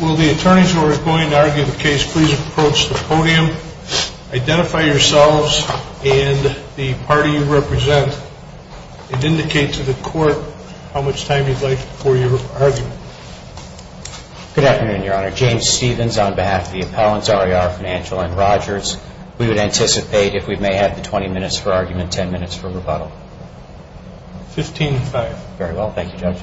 Will the attorneys who are going to argue the case please approach the podium, identify yourselves and the party you represent, and indicate to the court how much time you'd like for your argument. Good afternoon, Your Honor. James Stevens on behalf of the appellants RER Financial and Rogers. We would anticipate if we may have the 20 minutes for argument, 10 minutes for rebuttal. 15-5. Very well. Thank you, Judge.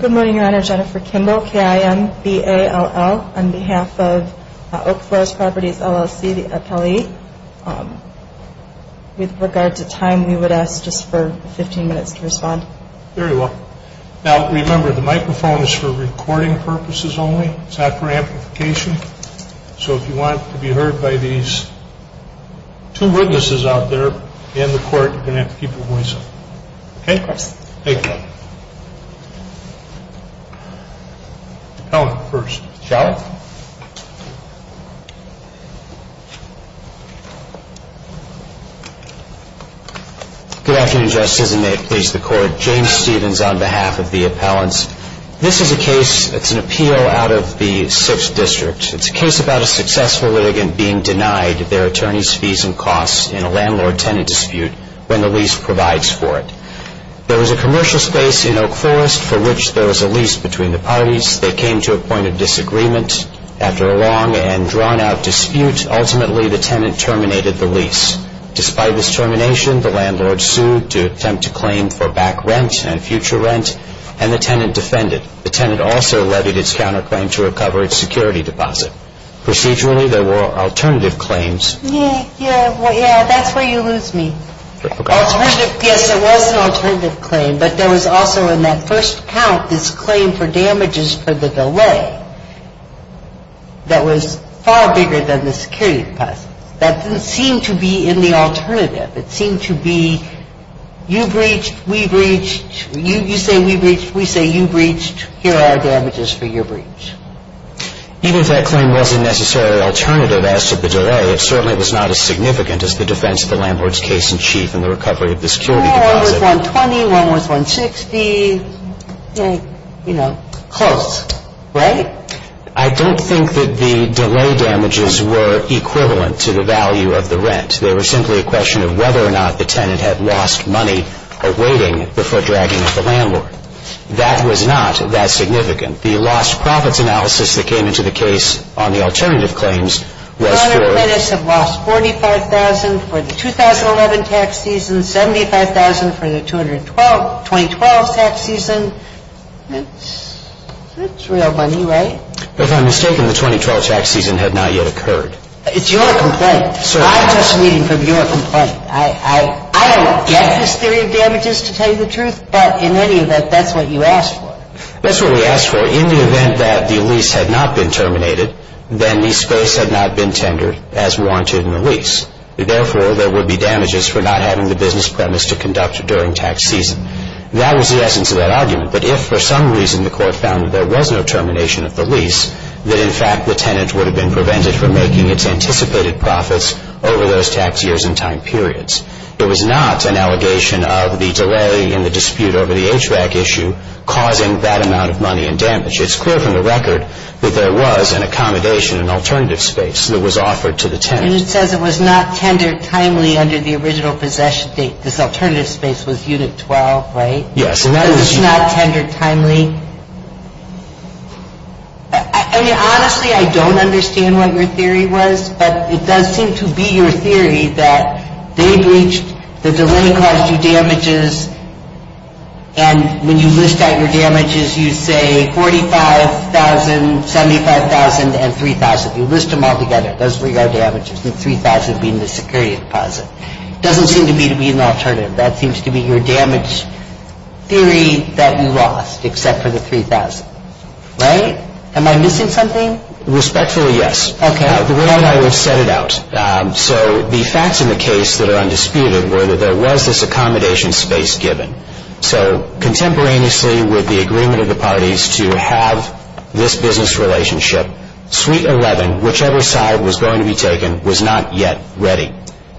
Good morning, Your Honor. Jennifer Kimball, K-I-M-B-A-L-L, on behalf of Oak Forest Properties LLC, the appellee. With regard to time, we would ask just for 15 minutes to respond. Very well. Now, remember, the microphone is for recording purposes only. It's not for amplification. So if you want to be heard by these two witnesses out there and the court, you're going to have to keep your voice up. Okay? Thank you. Shall I? Good afternoon, Your Honor. Good afternoon, Justices, and may it please the court. James Stevens on behalf of the appellants. This is a case, it's an appeal out of the 6th District. It's a case about a successful litigant being denied their attorney's fees and costs in a landlord-tenant dispute when the lease provides for it. There was a commercial space in Oak Forest for which there was a lease between the parties. They came to a point of disagreement. After a long and drawn-out dispute, ultimately, the tenant terminated the lease. Despite this termination, the landlord sued to attempt to claim for back rent and future rent, and the tenant defended. The tenant also levied its counterclaim to recover its security deposit. Procedurally, there were alternative claims. Yeah, that's where you lose me. Alternative, yes, there was an alternative claim, but there was also in that first count this claim for damages for the delay that was far bigger than the security deposit. That didn't seem to be in the alternative. It seemed to be you breached, we breached. You say we breached, we say you breached. Here are our damages for your breach. Even if that claim was a necessary alternative as to the delay, it certainly was not as significant as the defense of the landlord's case-in-chief in the recovery of the security deposit. One was $120, one was $160, you know, close, right? I don't think that the delay damages were equivalent to the value of the rent. They were simply a question of whether or not the tenant had lost money awaiting the foot-dragging of the landlord. That was not that significant. The lost profits analysis that came into the case on the alternative claims was for- The landlord and tenants have lost $45,000 for the 2011 tax season, $75,000 for the 2012 tax season. That's real money, right? If I'm mistaken, the 2012 tax season had not yet occurred. It's your complaint. Certainly. I'm just reading from your complaint. I don't get this theory of damages, to tell you the truth, but in any event, that's what you asked for. That's what we asked for. In the event that the lease had not been terminated, then the space had not been tendered as warranted in the lease. Therefore, there would be damages for not having the business premise to conduct during tax season. That was the essence of that argument. But if, for some reason, the Court found that there was no termination of the lease, that, in fact, the tenant would have been prevented from making its anticipated profits over those tax years and time periods. There was not an allegation of the delay in the dispute over the HVAC issue causing that amount of money in damage. It's clear from the record that there was an accommodation, an alternative space that was offered to the tenant. And it says it was not tendered timely under the original possession date. This alternative space was Unit 12, right? Yes. It was not tendered timely. I mean, honestly, I don't understand what your theory was. But it does seem to be your theory that they breached, that the lender caused you damages, and when you list out your damages, you say $45,000, $75,000, and $3,000. You list them all together. Those were your damages, and $3,000 being the security deposit. It doesn't seem to me to be an alternative. That seems to be your damage theory that you lost, except for the $3,000. Right? Am I missing something? Respectfully, yes. Okay. The way I would set it out. So the facts in the case that are undisputed were that there was this accommodation space given. So contemporaneously with the agreement of the parties to have this business relationship, Suite 11, whichever side was going to be taken, was not yet ready.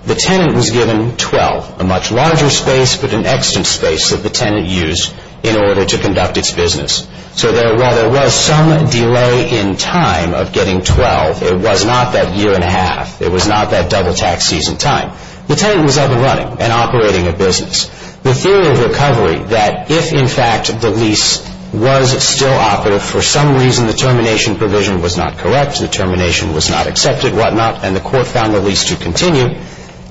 The tenant was given 12. A much larger space, but an extant space that the tenant used in order to conduct its business. So while there was some delay in time of getting 12, it was not that year and a half. It was not that double-tax season time. The tenant was up and running and operating a business. The theory of recovery that if, in fact, the lease was still operative, for some reason the termination provision was not correct, the termination was not accepted, and the court found the lease to continue,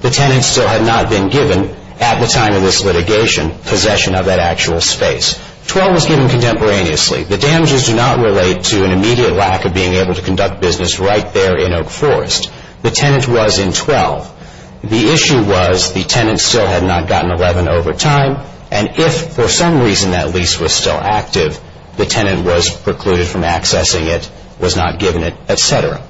the tenant still had not been given, at the time of this litigation, possession of that actual space. 12 was given contemporaneously. The damages do not relate to an immediate lack of being able to conduct business right there in Oak Forest. The tenant was in 12. The issue was the tenant still had not gotten 11 over time, and if for some reason that lease was still active, the tenant was precluded from accessing it, was not given it, et cetera.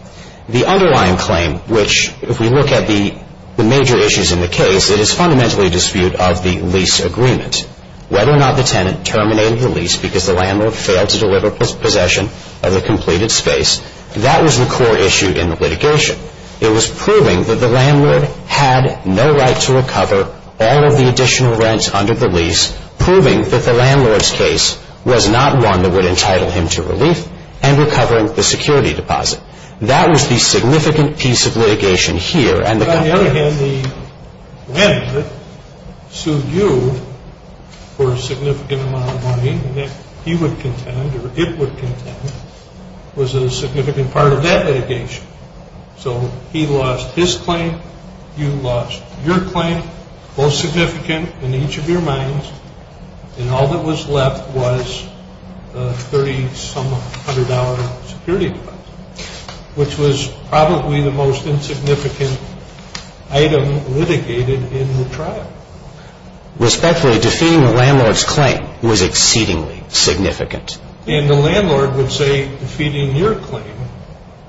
The underlying claim, which, if we look at the major issues in the case, it is fundamentally a dispute of the lease agreement. Whether or not the tenant terminated the lease because the landlord failed to deliver possession of the completed space, that was the core issue in the litigation. It was proving that the landlord had no right to recover all of the additional rents under the lease, proving that the landlord's case was not one that would entitle him to relief and recovering the security deposit. That was the significant piece of litigation here. On the other hand, the landlord sued you for a significant amount of money that he would contend or it would contend was a significant part of that litigation. So he lost his claim, you lost your claim, both significant in each of your minds, and all that was left was a $30-some-hundred security deposit, which was probably the most insignificant item litigated in the trial. Respectfully, defeating the landlord's claim was exceedingly significant. And the landlord would say defeating your claim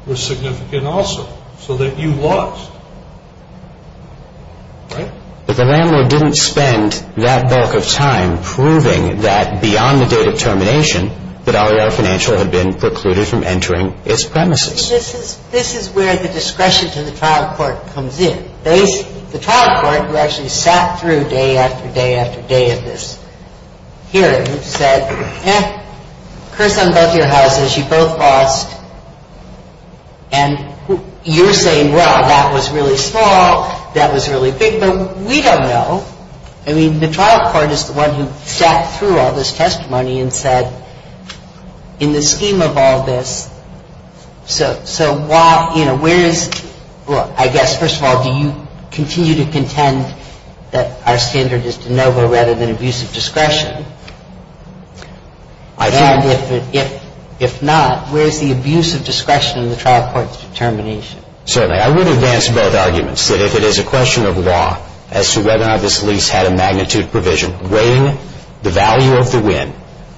was significant also, so that you lost, right? But the landlord didn't spend that bulk of time proving that beyond the date of termination that RER Financial had been precluded from entering its premises. This is where the discretion to the trial court comes in. The trial court, who actually sat through day after day after day of this hearing, said, eh, curse on both your houses, you both lost. And you're saying, well, that was really small, that was really big, but we don't know, I mean, the trial court is the one who sat through all this testimony and said, in the scheme of all this, so why, you know, where is, well, I guess, first of all, do you continue to contend that our standard is de novo rather than abuse of discretion? And if not, where is the abuse of discretion in the trial court's determination? Certainly. I would advance both arguments. That if it is a question of law as to whether or not this lease had a magnitude provision, weighing the value of the win,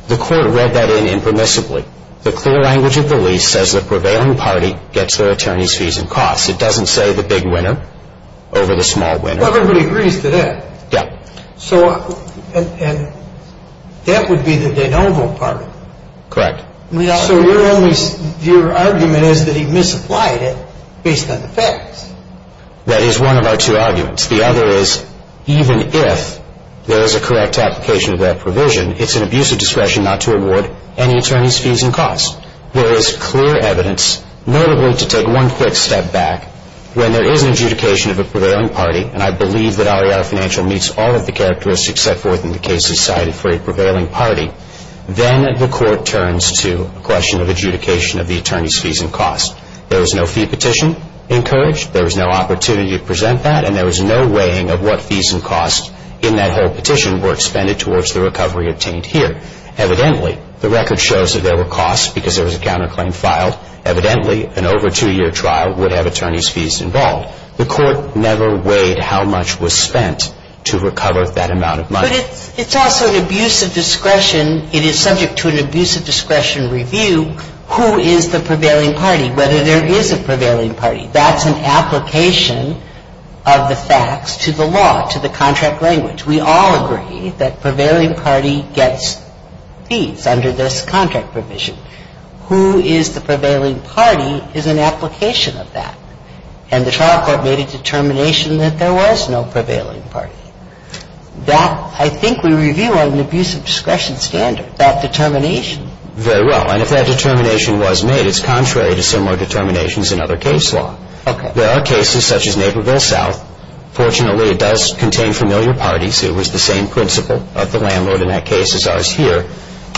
the court read that in impermissibly. The clear language of the lease says the prevailing party gets their attorney's fees and costs. It doesn't say the big winner over the small winner. Well, everybody agrees to that. Yeah. So, and that would be the de novo part. Correct. So your only, your argument is that he misapplied it based on the facts. That is one of our two arguments. The other is, even if there is a correct application of that provision, it's an abuse of discretion not to award any attorney's fees and costs. There is clear evidence, notably to take one quick step back, when there is an adjudication of a prevailing party, and I believe that REI financial meets all of the characteristics set forth in the cases cited for a prevailing party, then the court turns to a question of adjudication of the attorney's fees and costs. There was no fee petition encouraged. There was no opportunity to present that, and there was no weighing of what fees and costs in that whole petition were expended towards the recovery obtained here. Evidently, the record shows that there were costs because there was a counterclaim filed. Evidently, an over two-year trial would have attorney's fees involved. The court never weighed how much was spent to recover that amount of money. But it's also an abuse of discretion. It is subject to an abuse of discretion review who is the prevailing party, whether there is a prevailing party. That's an application of the facts to the law, to the contract language. We all agree that prevailing party gets fees under this contract provision. Who is the prevailing party is an application of that. And the trial court made a determination that there was no prevailing party. That, I think we review on an abuse of discretion standard, that determination. Very well. And if that determination was made, it's contrary to similar determinations in other case law. Okay. There are cases such as Naperville South. Fortunately, it does contain familiar parties. It was the same principle of the landlord in that case as ours here.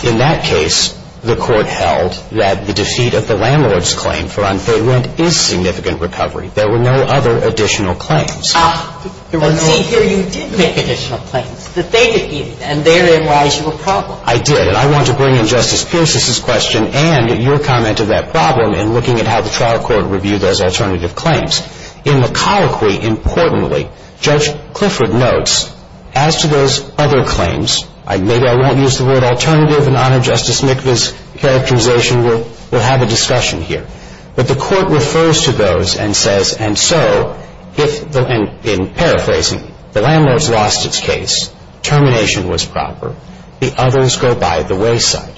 In that case, the court held that the defeat of the landlord's claim for unpaid rent is significant recovery. There were no other additional claims. But, see, here you did make additional claims, that they defeated, and therein lies your problem. I did. And I want to bring in Justice Pierce's question and your comment to that problem in looking at how the trial court reviewed those alternative claims. In the colloquy, importantly, Judge Clifford notes, as to those other claims, maybe I won't use the word alternative in honor of Justice Mikva's characterization. We'll have a discussion here. But the court refers to those and says, and so, in paraphrasing, the landlord's lost its case. Termination was proper. The others go by the wayside.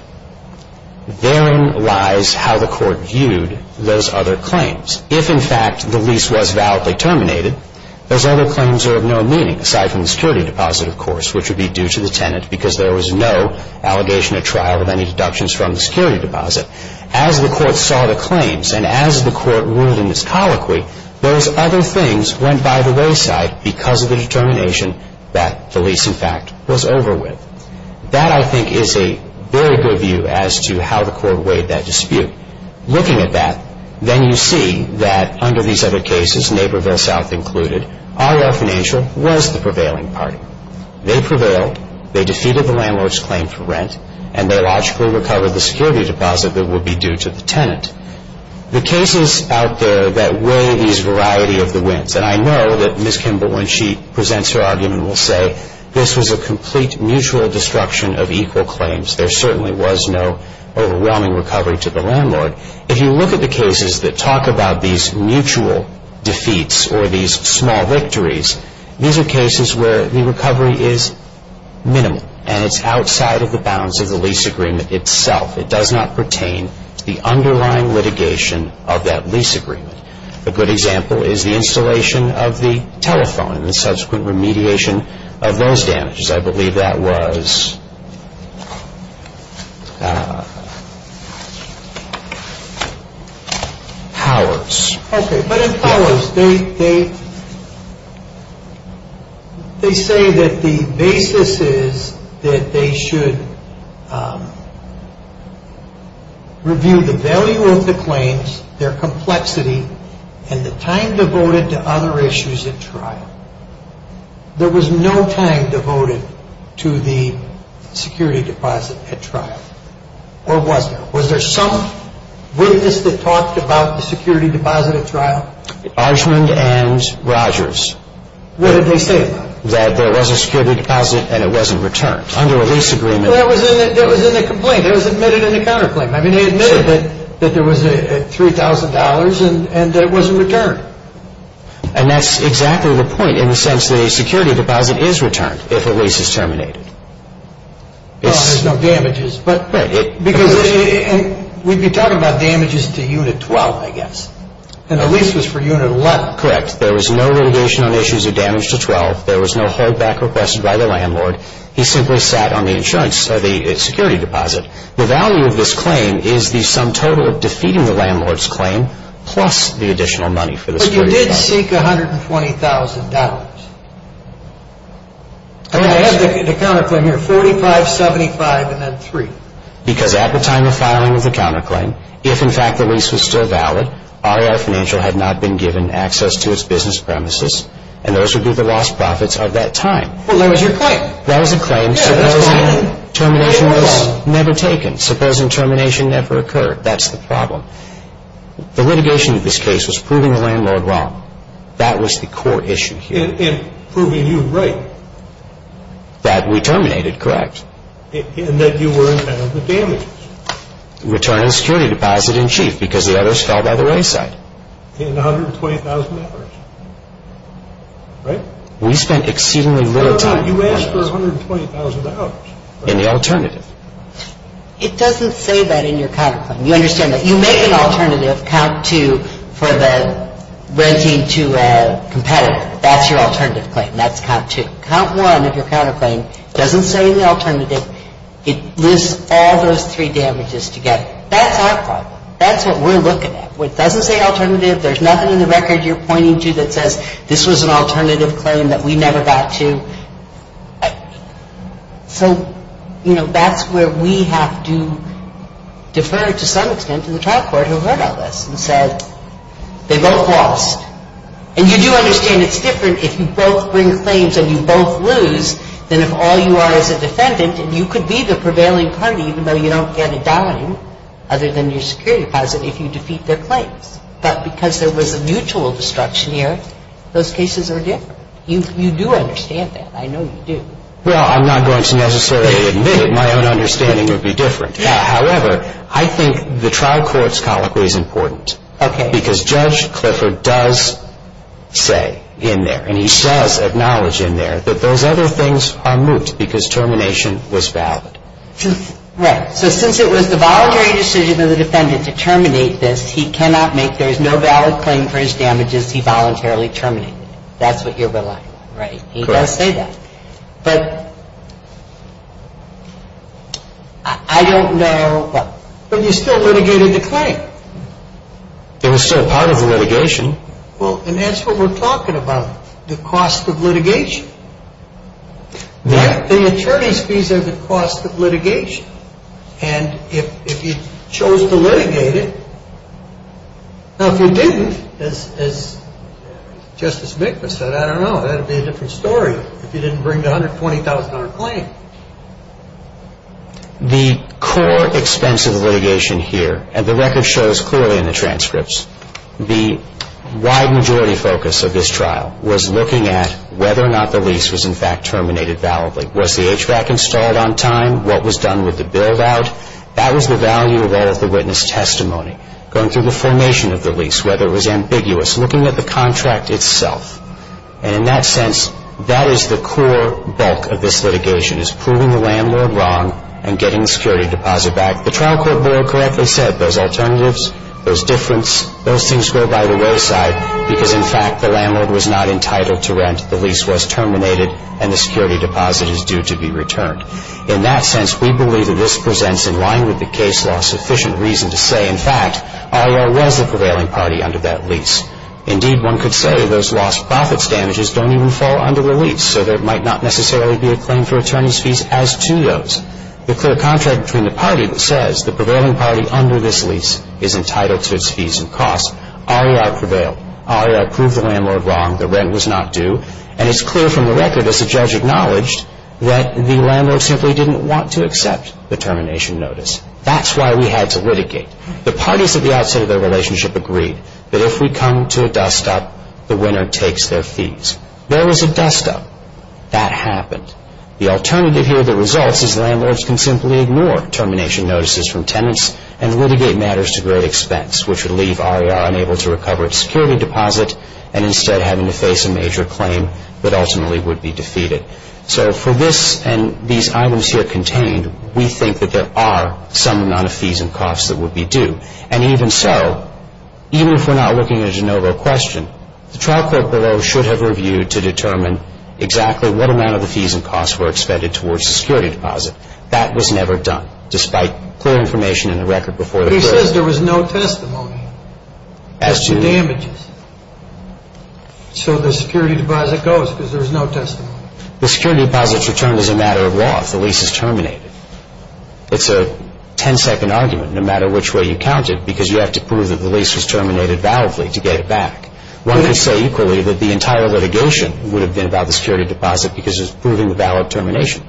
Therein lies how the court viewed those other claims. If, in fact, the lease was validly terminated, those other claims are of no meaning, aside from the security deposit, of course, which would be due to the tenant, because there was no allegation at trial of any deductions from the security deposit. As the court saw the claims, and as the court ruled in its colloquy, those other things went by the wayside because of the determination that the lease, in fact, was over with. That, I think, is a very good view as to how the court weighed that dispute. Looking at that, then you see that under these other cases, Naperville South included, RL Financial was the prevailing party. They prevailed. They defeated the landlord's claim for rent. And they logically recovered the security deposit that would be due to the tenant. The cases out there that weigh these variety of the wins, and I know that Ms. Kimball, when she presents her argument, will say this was a complete mutual destruction of equal claims. There certainly was no overwhelming recovery to the landlord. If you look at the cases that talk about these mutual defeats or these small victories, these are cases where the recovery is minimal, and it's outside of the bounds of the lease agreement itself. It does not pertain to the underlying litigation of that lease agreement. A good example is the installation of the telephone and the subsequent remediation of those damages. I believe that was Powers. Okay, but in Powers, they say that the basis is that they should review the value of the claims, their complexity, and the time devoted to other issues at trial. There was no time devoted to the security deposit at trial, or was there? Was there some witness that talked about the security deposit at trial? Archman and Rogers. What did they say about it? That there was a security deposit and it wasn't returned under a lease agreement. That was in the complaint. It was admitted in the counterclaim. I mean, they admitted that there was $3,000 and that it wasn't returned. And that's exactly the point in the sense that a security deposit is returned if a lease is terminated. Well, there's no damages, but we'd be talking about damages to Unit 12, I guess. And the lease was for Unit 11. Correct. There was no litigation on issues of damage to 12. There was no holdback requested by the landlord. He simply sat on the security deposit. The value of this claim is the sum total of defeating the landlord's claim plus the additional money for the security deposit. But you did seek $120,000. I have the counterclaim here, $45,000, $75,000, and then $3,000. Because at the time of filing of the counterclaim, if, in fact, the lease was still valid, RER Financial had not been given access to its business premises, and those would be the lost profits of that time. Well, that was your claim. That was a claim. Termination was never taken. Supposing termination never occurred, that's the problem. The litigation of this case was proving the landlord wrong. That was the core issue here. And proving you right. That we terminated, correct. And that you were in charge of the damages. Return of the security deposit in chief because the others fell by the wayside. In $120,000. Right? We spent exceedingly little time on that. You asked for $120,000. In the alternative. It doesn't say that in your counterclaim. You understand that? You make an alternative, count two, for the renting to a competitor. That's your alternative claim. That's count two. Count one of your counterclaim doesn't say in the alternative. It lists all those three damages together. That's our problem. That's what we're looking at. It doesn't say alternative. There's nothing in the record you're pointing to that says this was an alternative claim that we never got to. So, you know, that's where we have to defer to some extent to the trial court who heard all this and said they both lost. And you do understand it's different if you both bring claims and you both lose than if all you are is a defendant. And you could be the prevailing party even though you don't get a dime other than your security deposit if you defeat their claims. But because there was a mutual destruction here, those cases are different. You do understand that. I know you do. Well, I'm not going to necessarily admit it. My own understanding would be different. However, I think the trial court's colloquy is important because Judge Clifford does say in there and he does acknowledge in there that those other things are moot because termination was valid. Right. So since it was the voluntary decision of the defendant to terminate this, he cannot make there is no valid claim for his damages he voluntarily terminated. That's what you're relying on. Right. He does say that. But I don't know. But you still litigated the claim. It was still part of the litigation. Well, and that's what we're talking about, the cost of litigation. The attorney's fees are the cost of litigation. And if you chose to litigate it, now, if you didn't, as Justice Miklas said, I don't know. That would be a different story if you didn't bring the $120,000 claim. The core expense of the litigation here, and the record shows clearly in the transcripts, the wide majority focus of this trial was looking at whether or not the lease was, in fact, terminated validly. Was the HVAC installed on time? What was done with the build-out? That was the value of all of the witness testimony, going through the formation of the lease, whether it was ambiguous, looking at the contract itself. And in that sense, that is the core bulk of this litigation, is proving the landlord wrong and getting the security deposit back. The trial court board correctly said those alternatives, those difference, those things go by the wayside because, in fact, the landlord was not entitled to rent, the lease was terminated, and the security deposit is due to be returned. In that sense, we believe that this presents, in line with the case law, sufficient reason to say, in fact, RER was the prevailing party under that lease. Indeed, one could say those lost profits damages don't even fall under the lease, so there might not necessarily be a claim for attorney's fees as to those. The clear contract between the party that says the prevailing party under this lease is entitled to its fees and costs, RER prevailed, RER proved the landlord wrong, the rent was not due, and it's clear from the record, as the judge acknowledged, that the landlord simply didn't want to accept the termination notice. That's why we had to litigate. The parties at the outset of their relationship agreed that if we come to a dust-up, the winner takes their fees. There was a dust-up. That happened. The alternative here that results is landlords can simply ignore termination notices from tenants and litigate matters to great expense, which would leave RER unable to recover its security deposit and instead having to face a major claim that ultimately would be defeated. So for this and these items here contained, we think that there are some amount of fees and costs that would be due. And even so, even if we're not looking at a de novo question, the trial court below should have reviewed to determine exactly what amount of the fees and costs were expended towards the security deposit. That was never done, despite clear information in the record before the court. He says there was no testimony to damages. So the security deposit goes because there was no testimony. The security deposit's returned as a matter of law if the lease is terminated. It's a ten-second argument, no matter which way you count it, because you have to prove that the lease was terminated validly to get it back. One could say equally that the entire litigation would have been about the security deposit because it's proving the valid termination.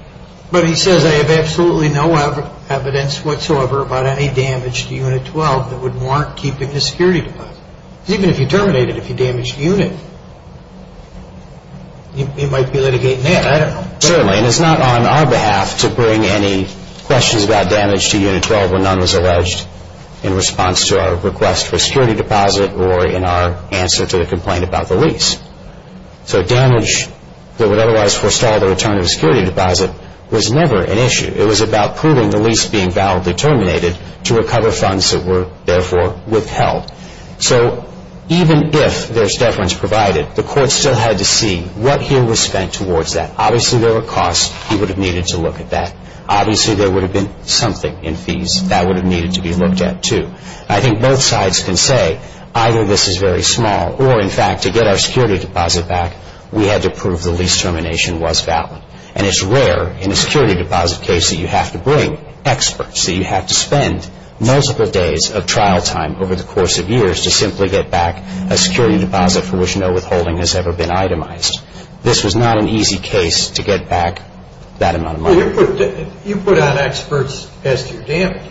But he says, I have absolutely no evidence whatsoever about any damage to Unit 12 that would mark keeping the security deposit. Because even if you terminate it, if you damage the unit, you might be litigating that. I don't know. Certainly, and it's not on our behalf to bring any questions about damage to Unit 12 when none was alleged in response to our request for a security deposit or in our answer to the complaint about the lease. So damage that would otherwise forestall the return of a security deposit was never an issue. It was about proving the lease being validly terminated to recover funds that were, therefore, withheld. So even if there's deference provided, the court still had to see what here was spent towards that. Obviously, there were costs. He would have needed to look at that. Obviously, there would have been something in fees that would have needed to be looked at, too. I think both sides can say either this is very small or, in fact, to get our security deposit back, we had to prove the lease termination was valid. And it's rare in a security deposit case that you have to bring experts, that you have to spend multiple days of trial time over the course of years to simply get back a security deposit for which no withholding has ever been itemized. This was not an easy case to get back that amount of money. So you put on experts as to your damages.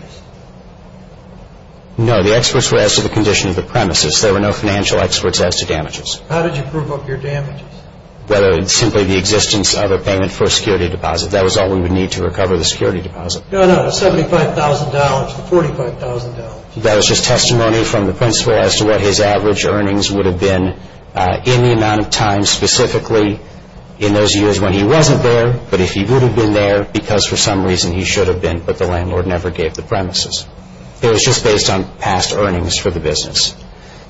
No, the experts were as to the condition of the premises. There were no financial experts as to damages. How did you prove up your damages? Whether it's simply the existence of a payment for a security deposit. That was all we would need to recover the security deposit. No, no, the $75,000, the $45,000. That was just testimony from the principal as to what his average earnings would have been in the amount of time specifically in those years when he wasn't there. But if he would have been there, because for some reason he should have been, but the landlord never gave the premises. It was just based on past earnings for the business.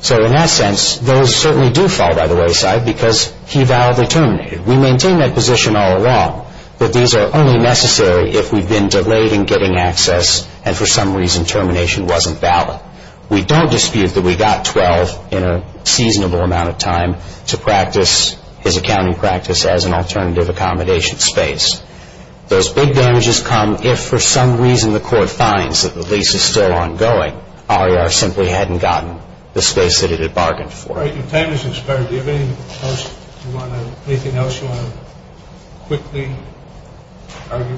So in that sense, those certainly do fall by the wayside because he validly terminated. We maintain that position all along, that these are only necessary if we've been delayed in getting access and for some reason termination wasn't valid. His accounting practice as an alternative accommodation space. Those big damages come if for some reason the court finds that the lease is still ongoing. RER simply hadn't gotten the space that it had bargained for. Your time has expired. Do you have anything else you want to quickly argue?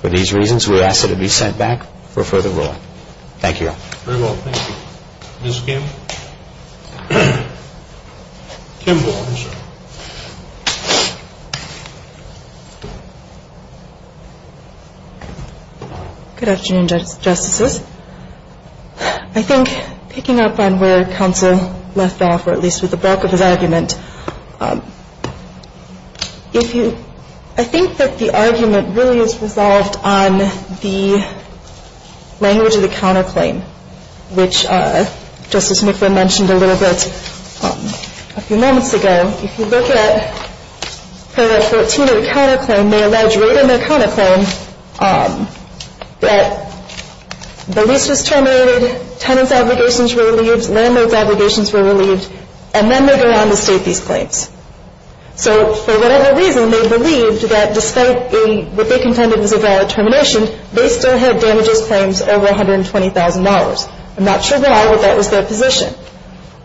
For these reasons, we ask that it be sent back for further ruling. Thank you. Very well, thank you. Ms. Kim. Kimball. Good afternoon, Justices. I think picking up on where counsel left off, or at least with the bulk of his argument, I think that the argument really is resolved on the language of the counterclaim, which Justice McQuinn mentioned a little bit a few moments ago. If you look at Paragraph 14 of the counterclaim, they allege right in the counterclaim that the lease was terminated, tenant's obligations were relieved, landlord's obligations were relieved, and then they go on to state these claims. So for whatever reason, they believed that despite what they contended was a valid termination, they still had damages claims over $120,000. I'm not sure why, but that was their position.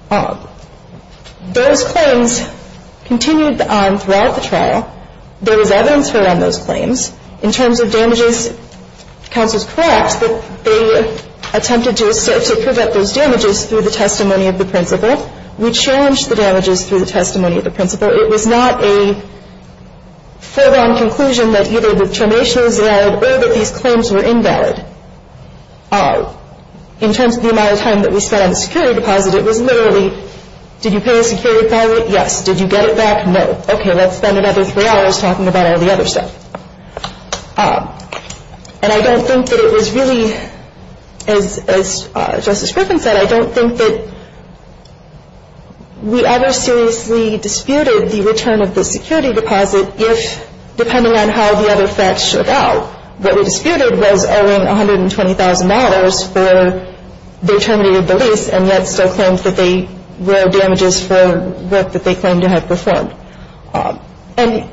Those claims continued on throughout the trial. There was evidence around those claims. In terms of damages, counsel is correct that they attempted to prevent those damages through the testimony of the principal. We challenged the damages through the testimony of the principal. It was not a full-blown conclusion that either the termination was valid or that these claims were invalid. In terms of the amount of time that we spent on the security deposit, it was literally, did you pay a security deposit? Yes. Did you get it back? No. Okay, let's spend another three hours talking about all the other stuff. And I don't think that it was really, as Justice Griffin said, I don't think that we ever seriously disputed the return of the security deposit if, depending on how the other facts showed out, what we disputed was owing $120,000 for they terminated the lease and yet still claimed that they were damages for work that they claimed to have performed. And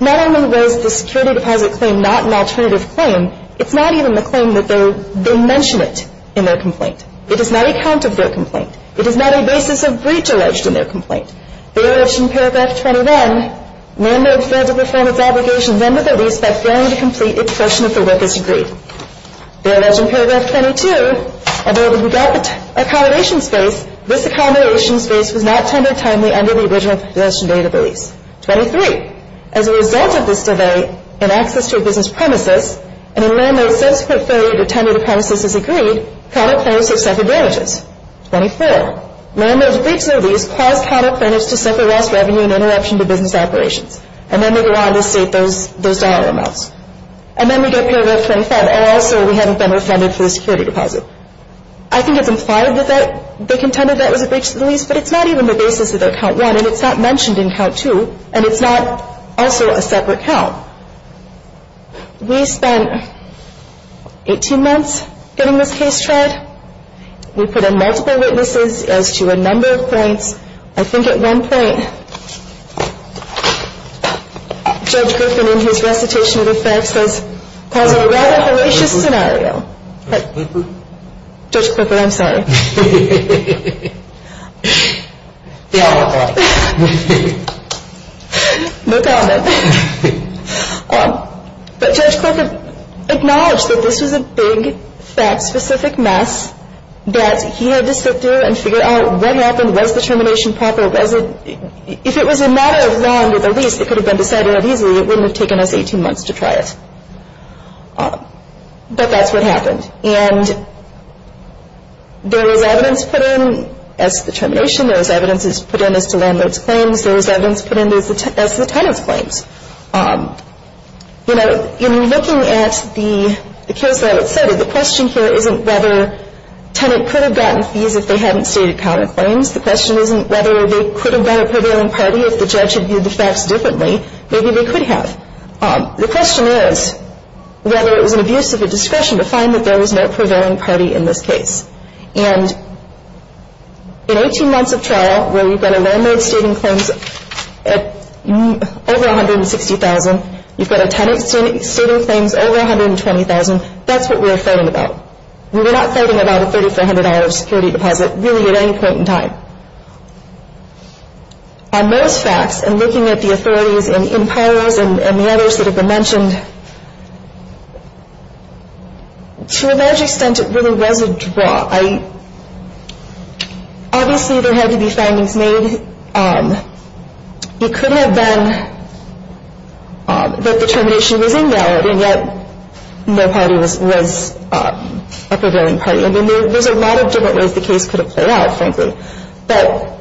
not only was the security deposit claim not an alternative claim, it's not even the claim that they mention it in their complaint. It is not a count of their complaint. It is not a basis of breach alleged in their complaint. They allege in Paragraph 21, Landlord failed to perform its obligations under the lease by failing to complete its portion of the work as agreed. They allege in Paragraph 22, Although when we got the accommodation space, this accommodation space was not tendered timely under the original possession date of the lease. Twenty-three. As a result of this delay in access to a business premises and in landlord's subsequent failure to tender the premises as agreed, counter plaintiffs have suffered damages. Twenty-four. Landlord's breach of lease caused counter plaintiffs to suffer less revenue and interruption to business operations. And then they go on to state those dollar amounts. And then we get Paragraph 25. And also we haven't been refunded for the security deposit. I think it's implied that they contended that it was a breach of the lease, but it's not even the basis of their count one, and it's not mentioned in count two, and it's not also a separate count. We spent 18 months getting this case tried. We put in multiple witnesses as to a number of points. I think at one point, Judge Griffin, in his recitation of the facts, says it was a rather hellacious scenario. Judge Clifford, I'm sorry. No comment. But Judge Clifford acknowledged that this was a big, fat, specific mess that he had to sit through and figure out what happened, was the termination proper. If it was a matter of law and with a lease, it could have been decided that easily. It wouldn't have taken us 18 months to try it. But that's what happened. And there was evidence put in as to the termination. There was evidence put in as to landlord's claims. There was evidence put in as to the tenant's claims. You know, in looking at the case that I just cited, the question here isn't whether the tenant could have gotten fees if they hadn't stated counter claims. The question isn't whether they could have got a prevailing party if the judge had viewed the facts differently. Maybe they could have. The question is whether it was an abuse of the discretion to find that there was no prevailing party in this case. And in 18 months of trial, where you've got a landlord stating claims at over $160,000, you've got a tenant stating claims over $120,000, that's what we're fighting about. We're not fighting about a $3,400 security deposit, really, at any point in time. On those facts, and looking at the authorities and emperors and the others that have been mentioned, to a large extent, it really was a draw. Obviously, there had to be findings made. It could have been that the termination was invalid, and yet no party was a prevailing party. I mean, there's a lot of different ways the case could have played out, frankly. But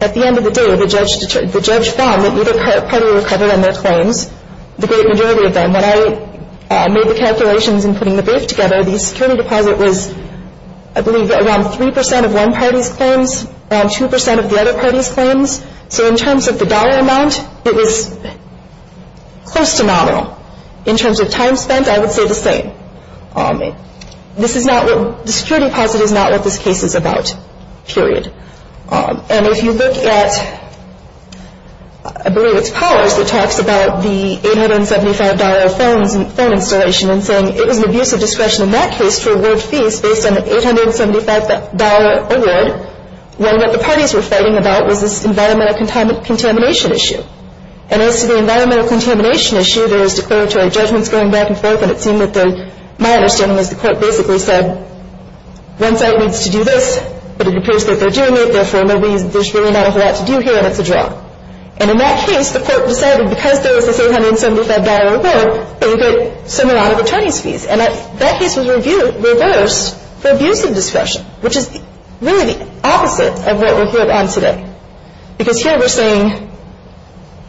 at the end of the day, the judge found that neither party recovered on their claims, the great majority of them. When I made the calculations in putting the brief together, the security deposit was, I believe, around 3% of one party's claims, around 2% of the other party's claims. So in terms of the dollar amount, it was close to nominal. In terms of time spent, I would say the same. The security deposit is not what this case is about, period. And if you look at, I believe it's Powers that talks about the $875 phone installation and saying it was an abuse of discretion in that case to award fees based on an $875 award, when what the parties were fighting about was this environmental contamination issue. And as to the environmental contamination issue, there was declaratory judgments going back and forth, and it seemed that the, my understanding is the court basically said one side needs to do this, but it appears that they're doing it, therefore there's really not a whole lot to do here, and it's a draw. And in that case, the court decided because there was this $875 award, they would get some amount of attorney's fees. And that case was reversed for abuse of discretion, which is really the opposite of what we're here on today. Because here we're saying,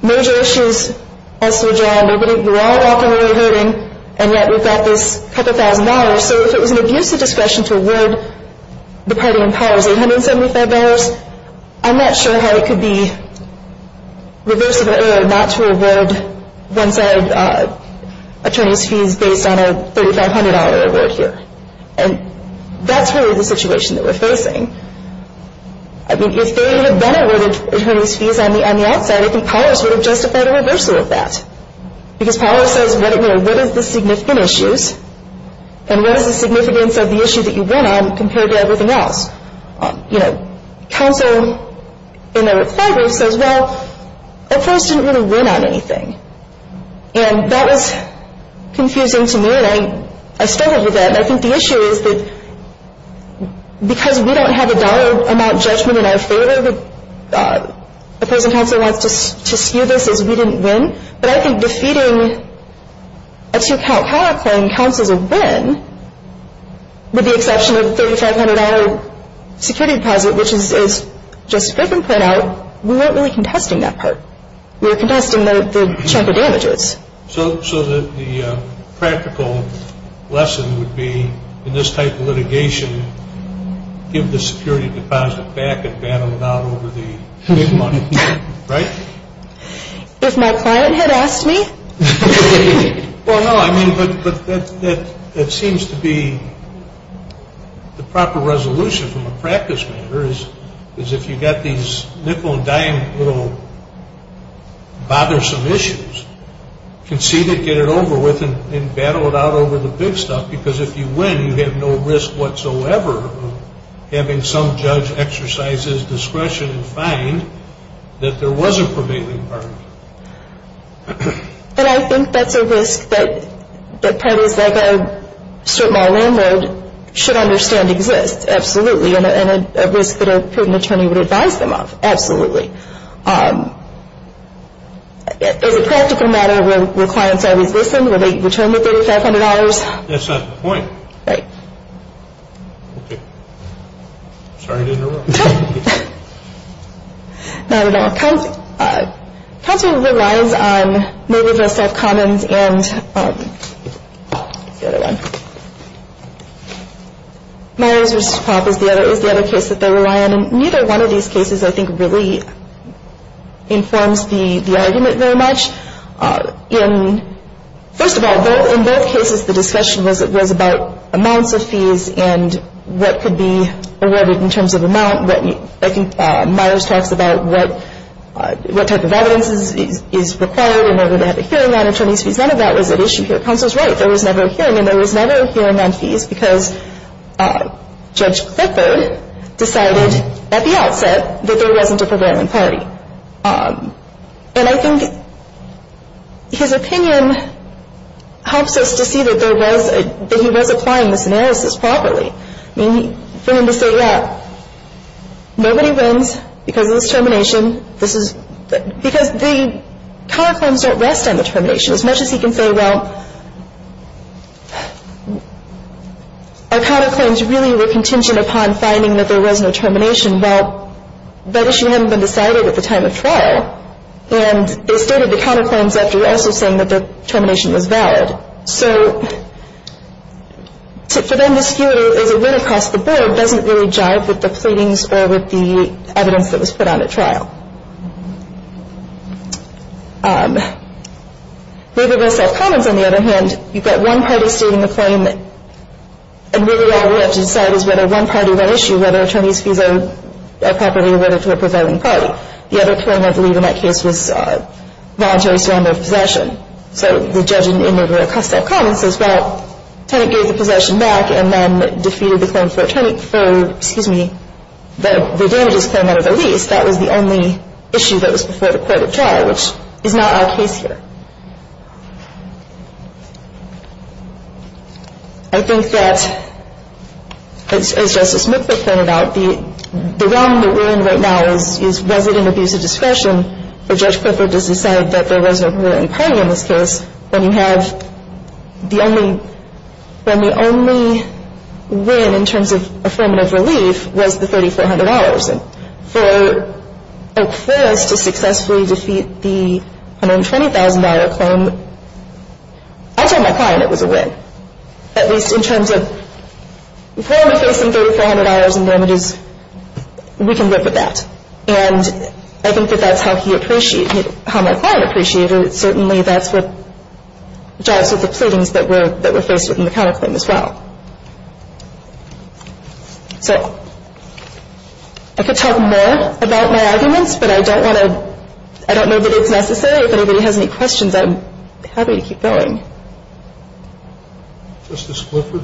no jurisdictions as sojourned, we're all walking away hurting, and yet we've got this couple thousand dollars, so if it was an abuse of discretion to award the party in Powers $875, I'm not sure how it could be reversible not to award one side attorney's fees based on a $3,500 award here. And that's really the situation that we're facing. I mean, if they had been awarded attorney's fees on the outside, I think Powers would have justified a reversal of that. Because Powers says, what is the significant issues, and what is the significance of the issue that you went on compared to everything else? Counsel in the required group says, well, that person didn't really win on anything. And that was confusing to me, and I struggled with that. And I think the issue is that because we don't have a dollar amount judgment in our favor, the person counsel wants to skew this as we didn't win. But I think defeating a two-count power claim counts as a win, with the exception of the $3,500 security deposit, which, as Justice Griffin pointed out, we weren't really contesting that part. We were contesting the chunk of damages. So the practical lesson would be, in this type of litigation, give the security deposit back and battle it out over the big money, right? If my client had asked me? Well, no, I mean, but that seems to be the proper resolution from a practice matter, is if you've got these nickel and dime little bothersome issues, concede it, get it over with, and battle it out over the big stuff. Because if you win, you have no risk whatsoever of having some judge exercise his discretion and find that there was a prevailing partner. And I think that's a risk that parties like a strip mall landlord should understand exists, absolutely, and a risk that a proven attorney would advise them of, absolutely. It's a practical matter where clients always listen, where they return the $3,500. That's not the point. Right. Okay. Sorry to interrupt. Not at all. Counsel relies on Merrillville South Commons and the other one. Myers v. Pop is the other case that they rely on. And neither one of these cases, I think, really informs the argument very much. First of all, in both cases, the discussion was about amounts of fees and what could be awarded in terms of amount. I think Myers talks about what type of evidence is required in order to have a hearing on attorneys' fees. None of that was at issue here. Counsel's right. There was never a hearing, and there was never a hearing on fees because Judge Clifford decided at the outset that there wasn't a prevailing party. And I think his opinion helps us to see that he was applying this analysis properly. I mean, for him to say, yeah, nobody wins because of this termination. Because the counterclaims don't rest on the termination. As much as he can say, well, our counterclaims really were contingent upon finding that there was no termination. Well, that issue hadn't been decided at the time of trial, and they stated the counterclaims after also saying that the termination was valid. So for them to skew it as a win across the board doesn't really jive with the pleadings or with the evidence that was put on at trial. Nevertheless, at Commons, on the other hand, you've got one party stating the claim and really all we have to decide is whether one party won an issue, whether attorneys' fees are properly awarded to a prevailing party. The other claim, I believe, in that case was voluntary surrender of possession. So the judge in the murder of Custaff Commons says, well, the tenant gave the possession back and then defeated the claim for the damages claim out of the lease. That was the only issue that was before the court of trial, which is not our case here. I think that, as Justice McCliff pointed out, the realm that we're in right now is resident abuse of discretion. For Judge Clifford to decide that there was no prevailing party in this case, when you have the only win in terms of affirmative relief was the $3,400. And for Oak Forest to successfully defeat the $120,000 claim, I told my client it was a win, at least in terms of if we're going to face some $3,400 in damages, we can live with that. And I think that that's how he appreciated it, how my client appreciated it. Certainly that's what jives with the pleadings that were faced within the counterclaim as well. So I could talk more about my arguments, but I don't want to – I don't know that it's necessary. If anybody has any questions, I'm happy to keep going. Justice Clifford?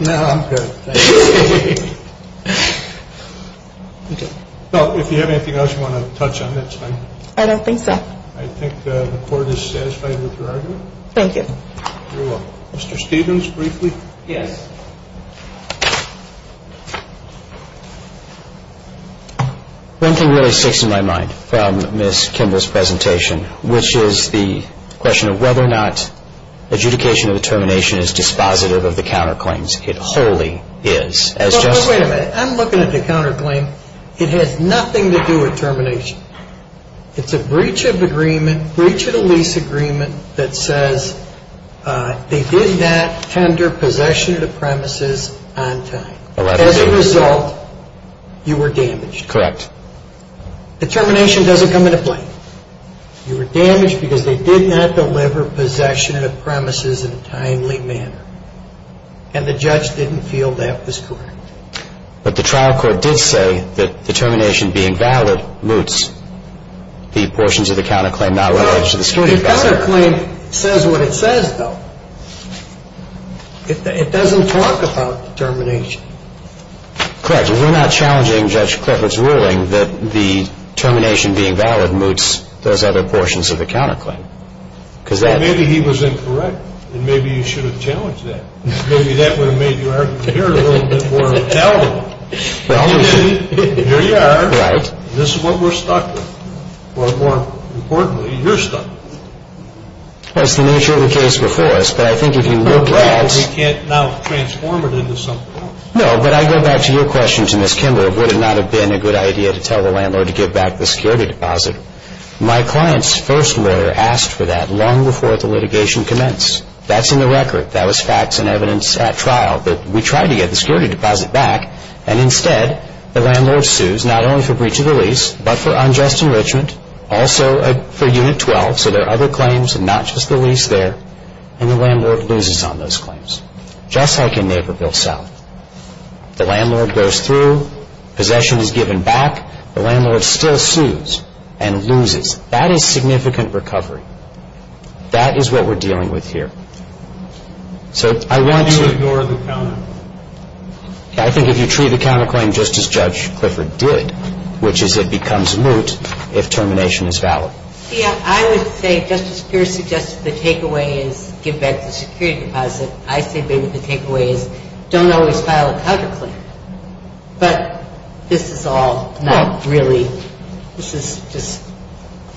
No, I'm good. Thank you. Okay. If you have anything else you want to touch on, that's fine. I don't think so. I think the Court is satisfied with your argument. Thank you. Mr. Stevens, briefly? Yes. One thing really sticks in my mind from Ms. Kimball's presentation, which is the question of whether or not adjudication of the termination is dispositive of the counterclaims. It wholly is. Wait a minute. I'm looking at the counterclaim. It has nothing to do with termination. It's a breach of agreement, breach of the lease agreement that says they did not tender possession of the premises on time. As a result, you were damaged. Correct. The termination doesn't come into play. You were damaged because they did not deliver possession of the premises in a timely manner, and the judge didn't feel that was correct. But the trial court did say that the termination being valid moots the portions of the counterclaim not related to the street. The counterclaim says what it says, though. It doesn't talk about termination. Correct. We're not challenging Judge Clifford's ruling that the termination being valid moots those other portions of the counterclaim. Maybe he was incorrect, and maybe you should have challenged that. Maybe that would have made your argument here a little bit more valid. Here you are. Right. This is what we're stuck with, or more importantly, you're stuck with. Well, it's the nature of the case before us, but I think if you look at it. We can't now transform it into something else. No, but I go back to your question to Ms. Kimball of would it not have been a good idea to tell the landlord to give back the security deposit. My client's first lawyer asked for that long before the litigation commenced. That's in the record. That was facts and evidence at trial that we tried to get the security deposit back, and instead the landlord sues not only for breach of the lease but for unjust enrichment, also for Unit 12, so there are other claims and not just the lease there, and the landlord loses on those claims. Just like in Naperville South. The landlord goes through. Possession is given back. The landlord still sues and loses. That is significant recovery. That is what we're dealing with here. So I want to. Why do you ignore the counterclaim? I think if you treat the counterclaim just as Judge Clifford did, which is it becomes moot if termination is valid. See, I would say Justice Pierce suggested the takeaway is give back the security deposit. I say maybe the takeaway is don't always file a counterclaim, but this is all not really. This is just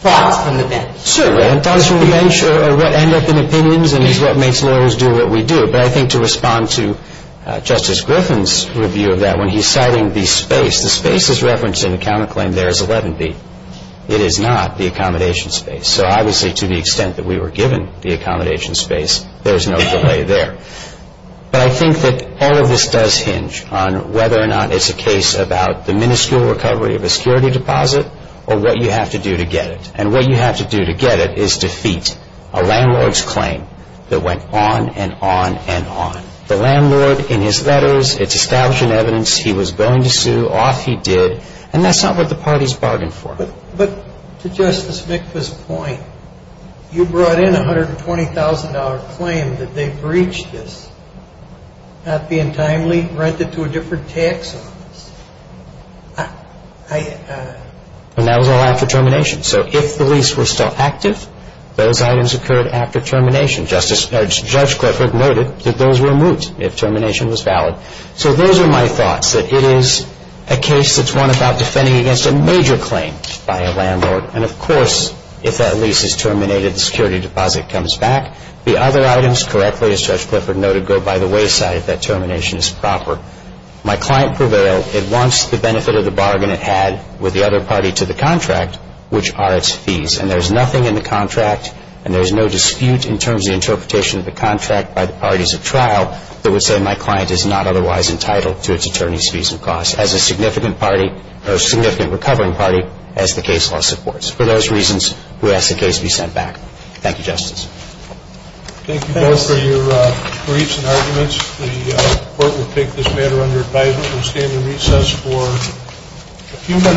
thoughts from the bench. Certainly, and thoughts from the bench are what end up in opinions and is what makes lawyers do what we do. But I think to respond to Justice Griffin's review of that when he's citing the space, the space is referenced in the counterclaim there as 11B. It is not the accommodation space. So I would say to the extent that we were given the accommodation space, there's no delay there. But I think that all of this does hinge on whether or not it's a case about the minuscule recovery of a security deposit or what you have to do to get it. And what you have to do to get it is defeat a landlord's claim that went on and on and on. The landlord, in his letters, it's established in evidence he was willing to sue. Off he did. And that's not what the parties bargained for. But to Justice Mikva's point, you brought in a $120,000 claim that they breached this, not being timely, rented to a different tax office. And that was all after termination. So if the lease was still active, those items occurred after termination. Judge Clifford noted that those were moot if termination was valid. So those are my thoughts, that it is a case that's one about defending against a major claim by a landlord. And, of course, if that lease is terminated, the security deposit comes back. The other items, correctly, as Judge Clifford noted, go by the wayside if that termination is proper. My client prevailed. It wants the benefit of the bargain it had with the other party to the contract, which are its fees. And there's nothing in the contract, and there's no dispute in terms of the interpretation of the contract by the parties of trial, that would say my client is not otherwise entitled to its attorney's fees and costs as a significant party, a significant recovering party, as the case law supports. For those reasons, we ask the case be sent back. Thank you, Justice. Thank you both for your briefs and arguments. The Court will take this matter under advisement. We'll stand in recess for a few minutes.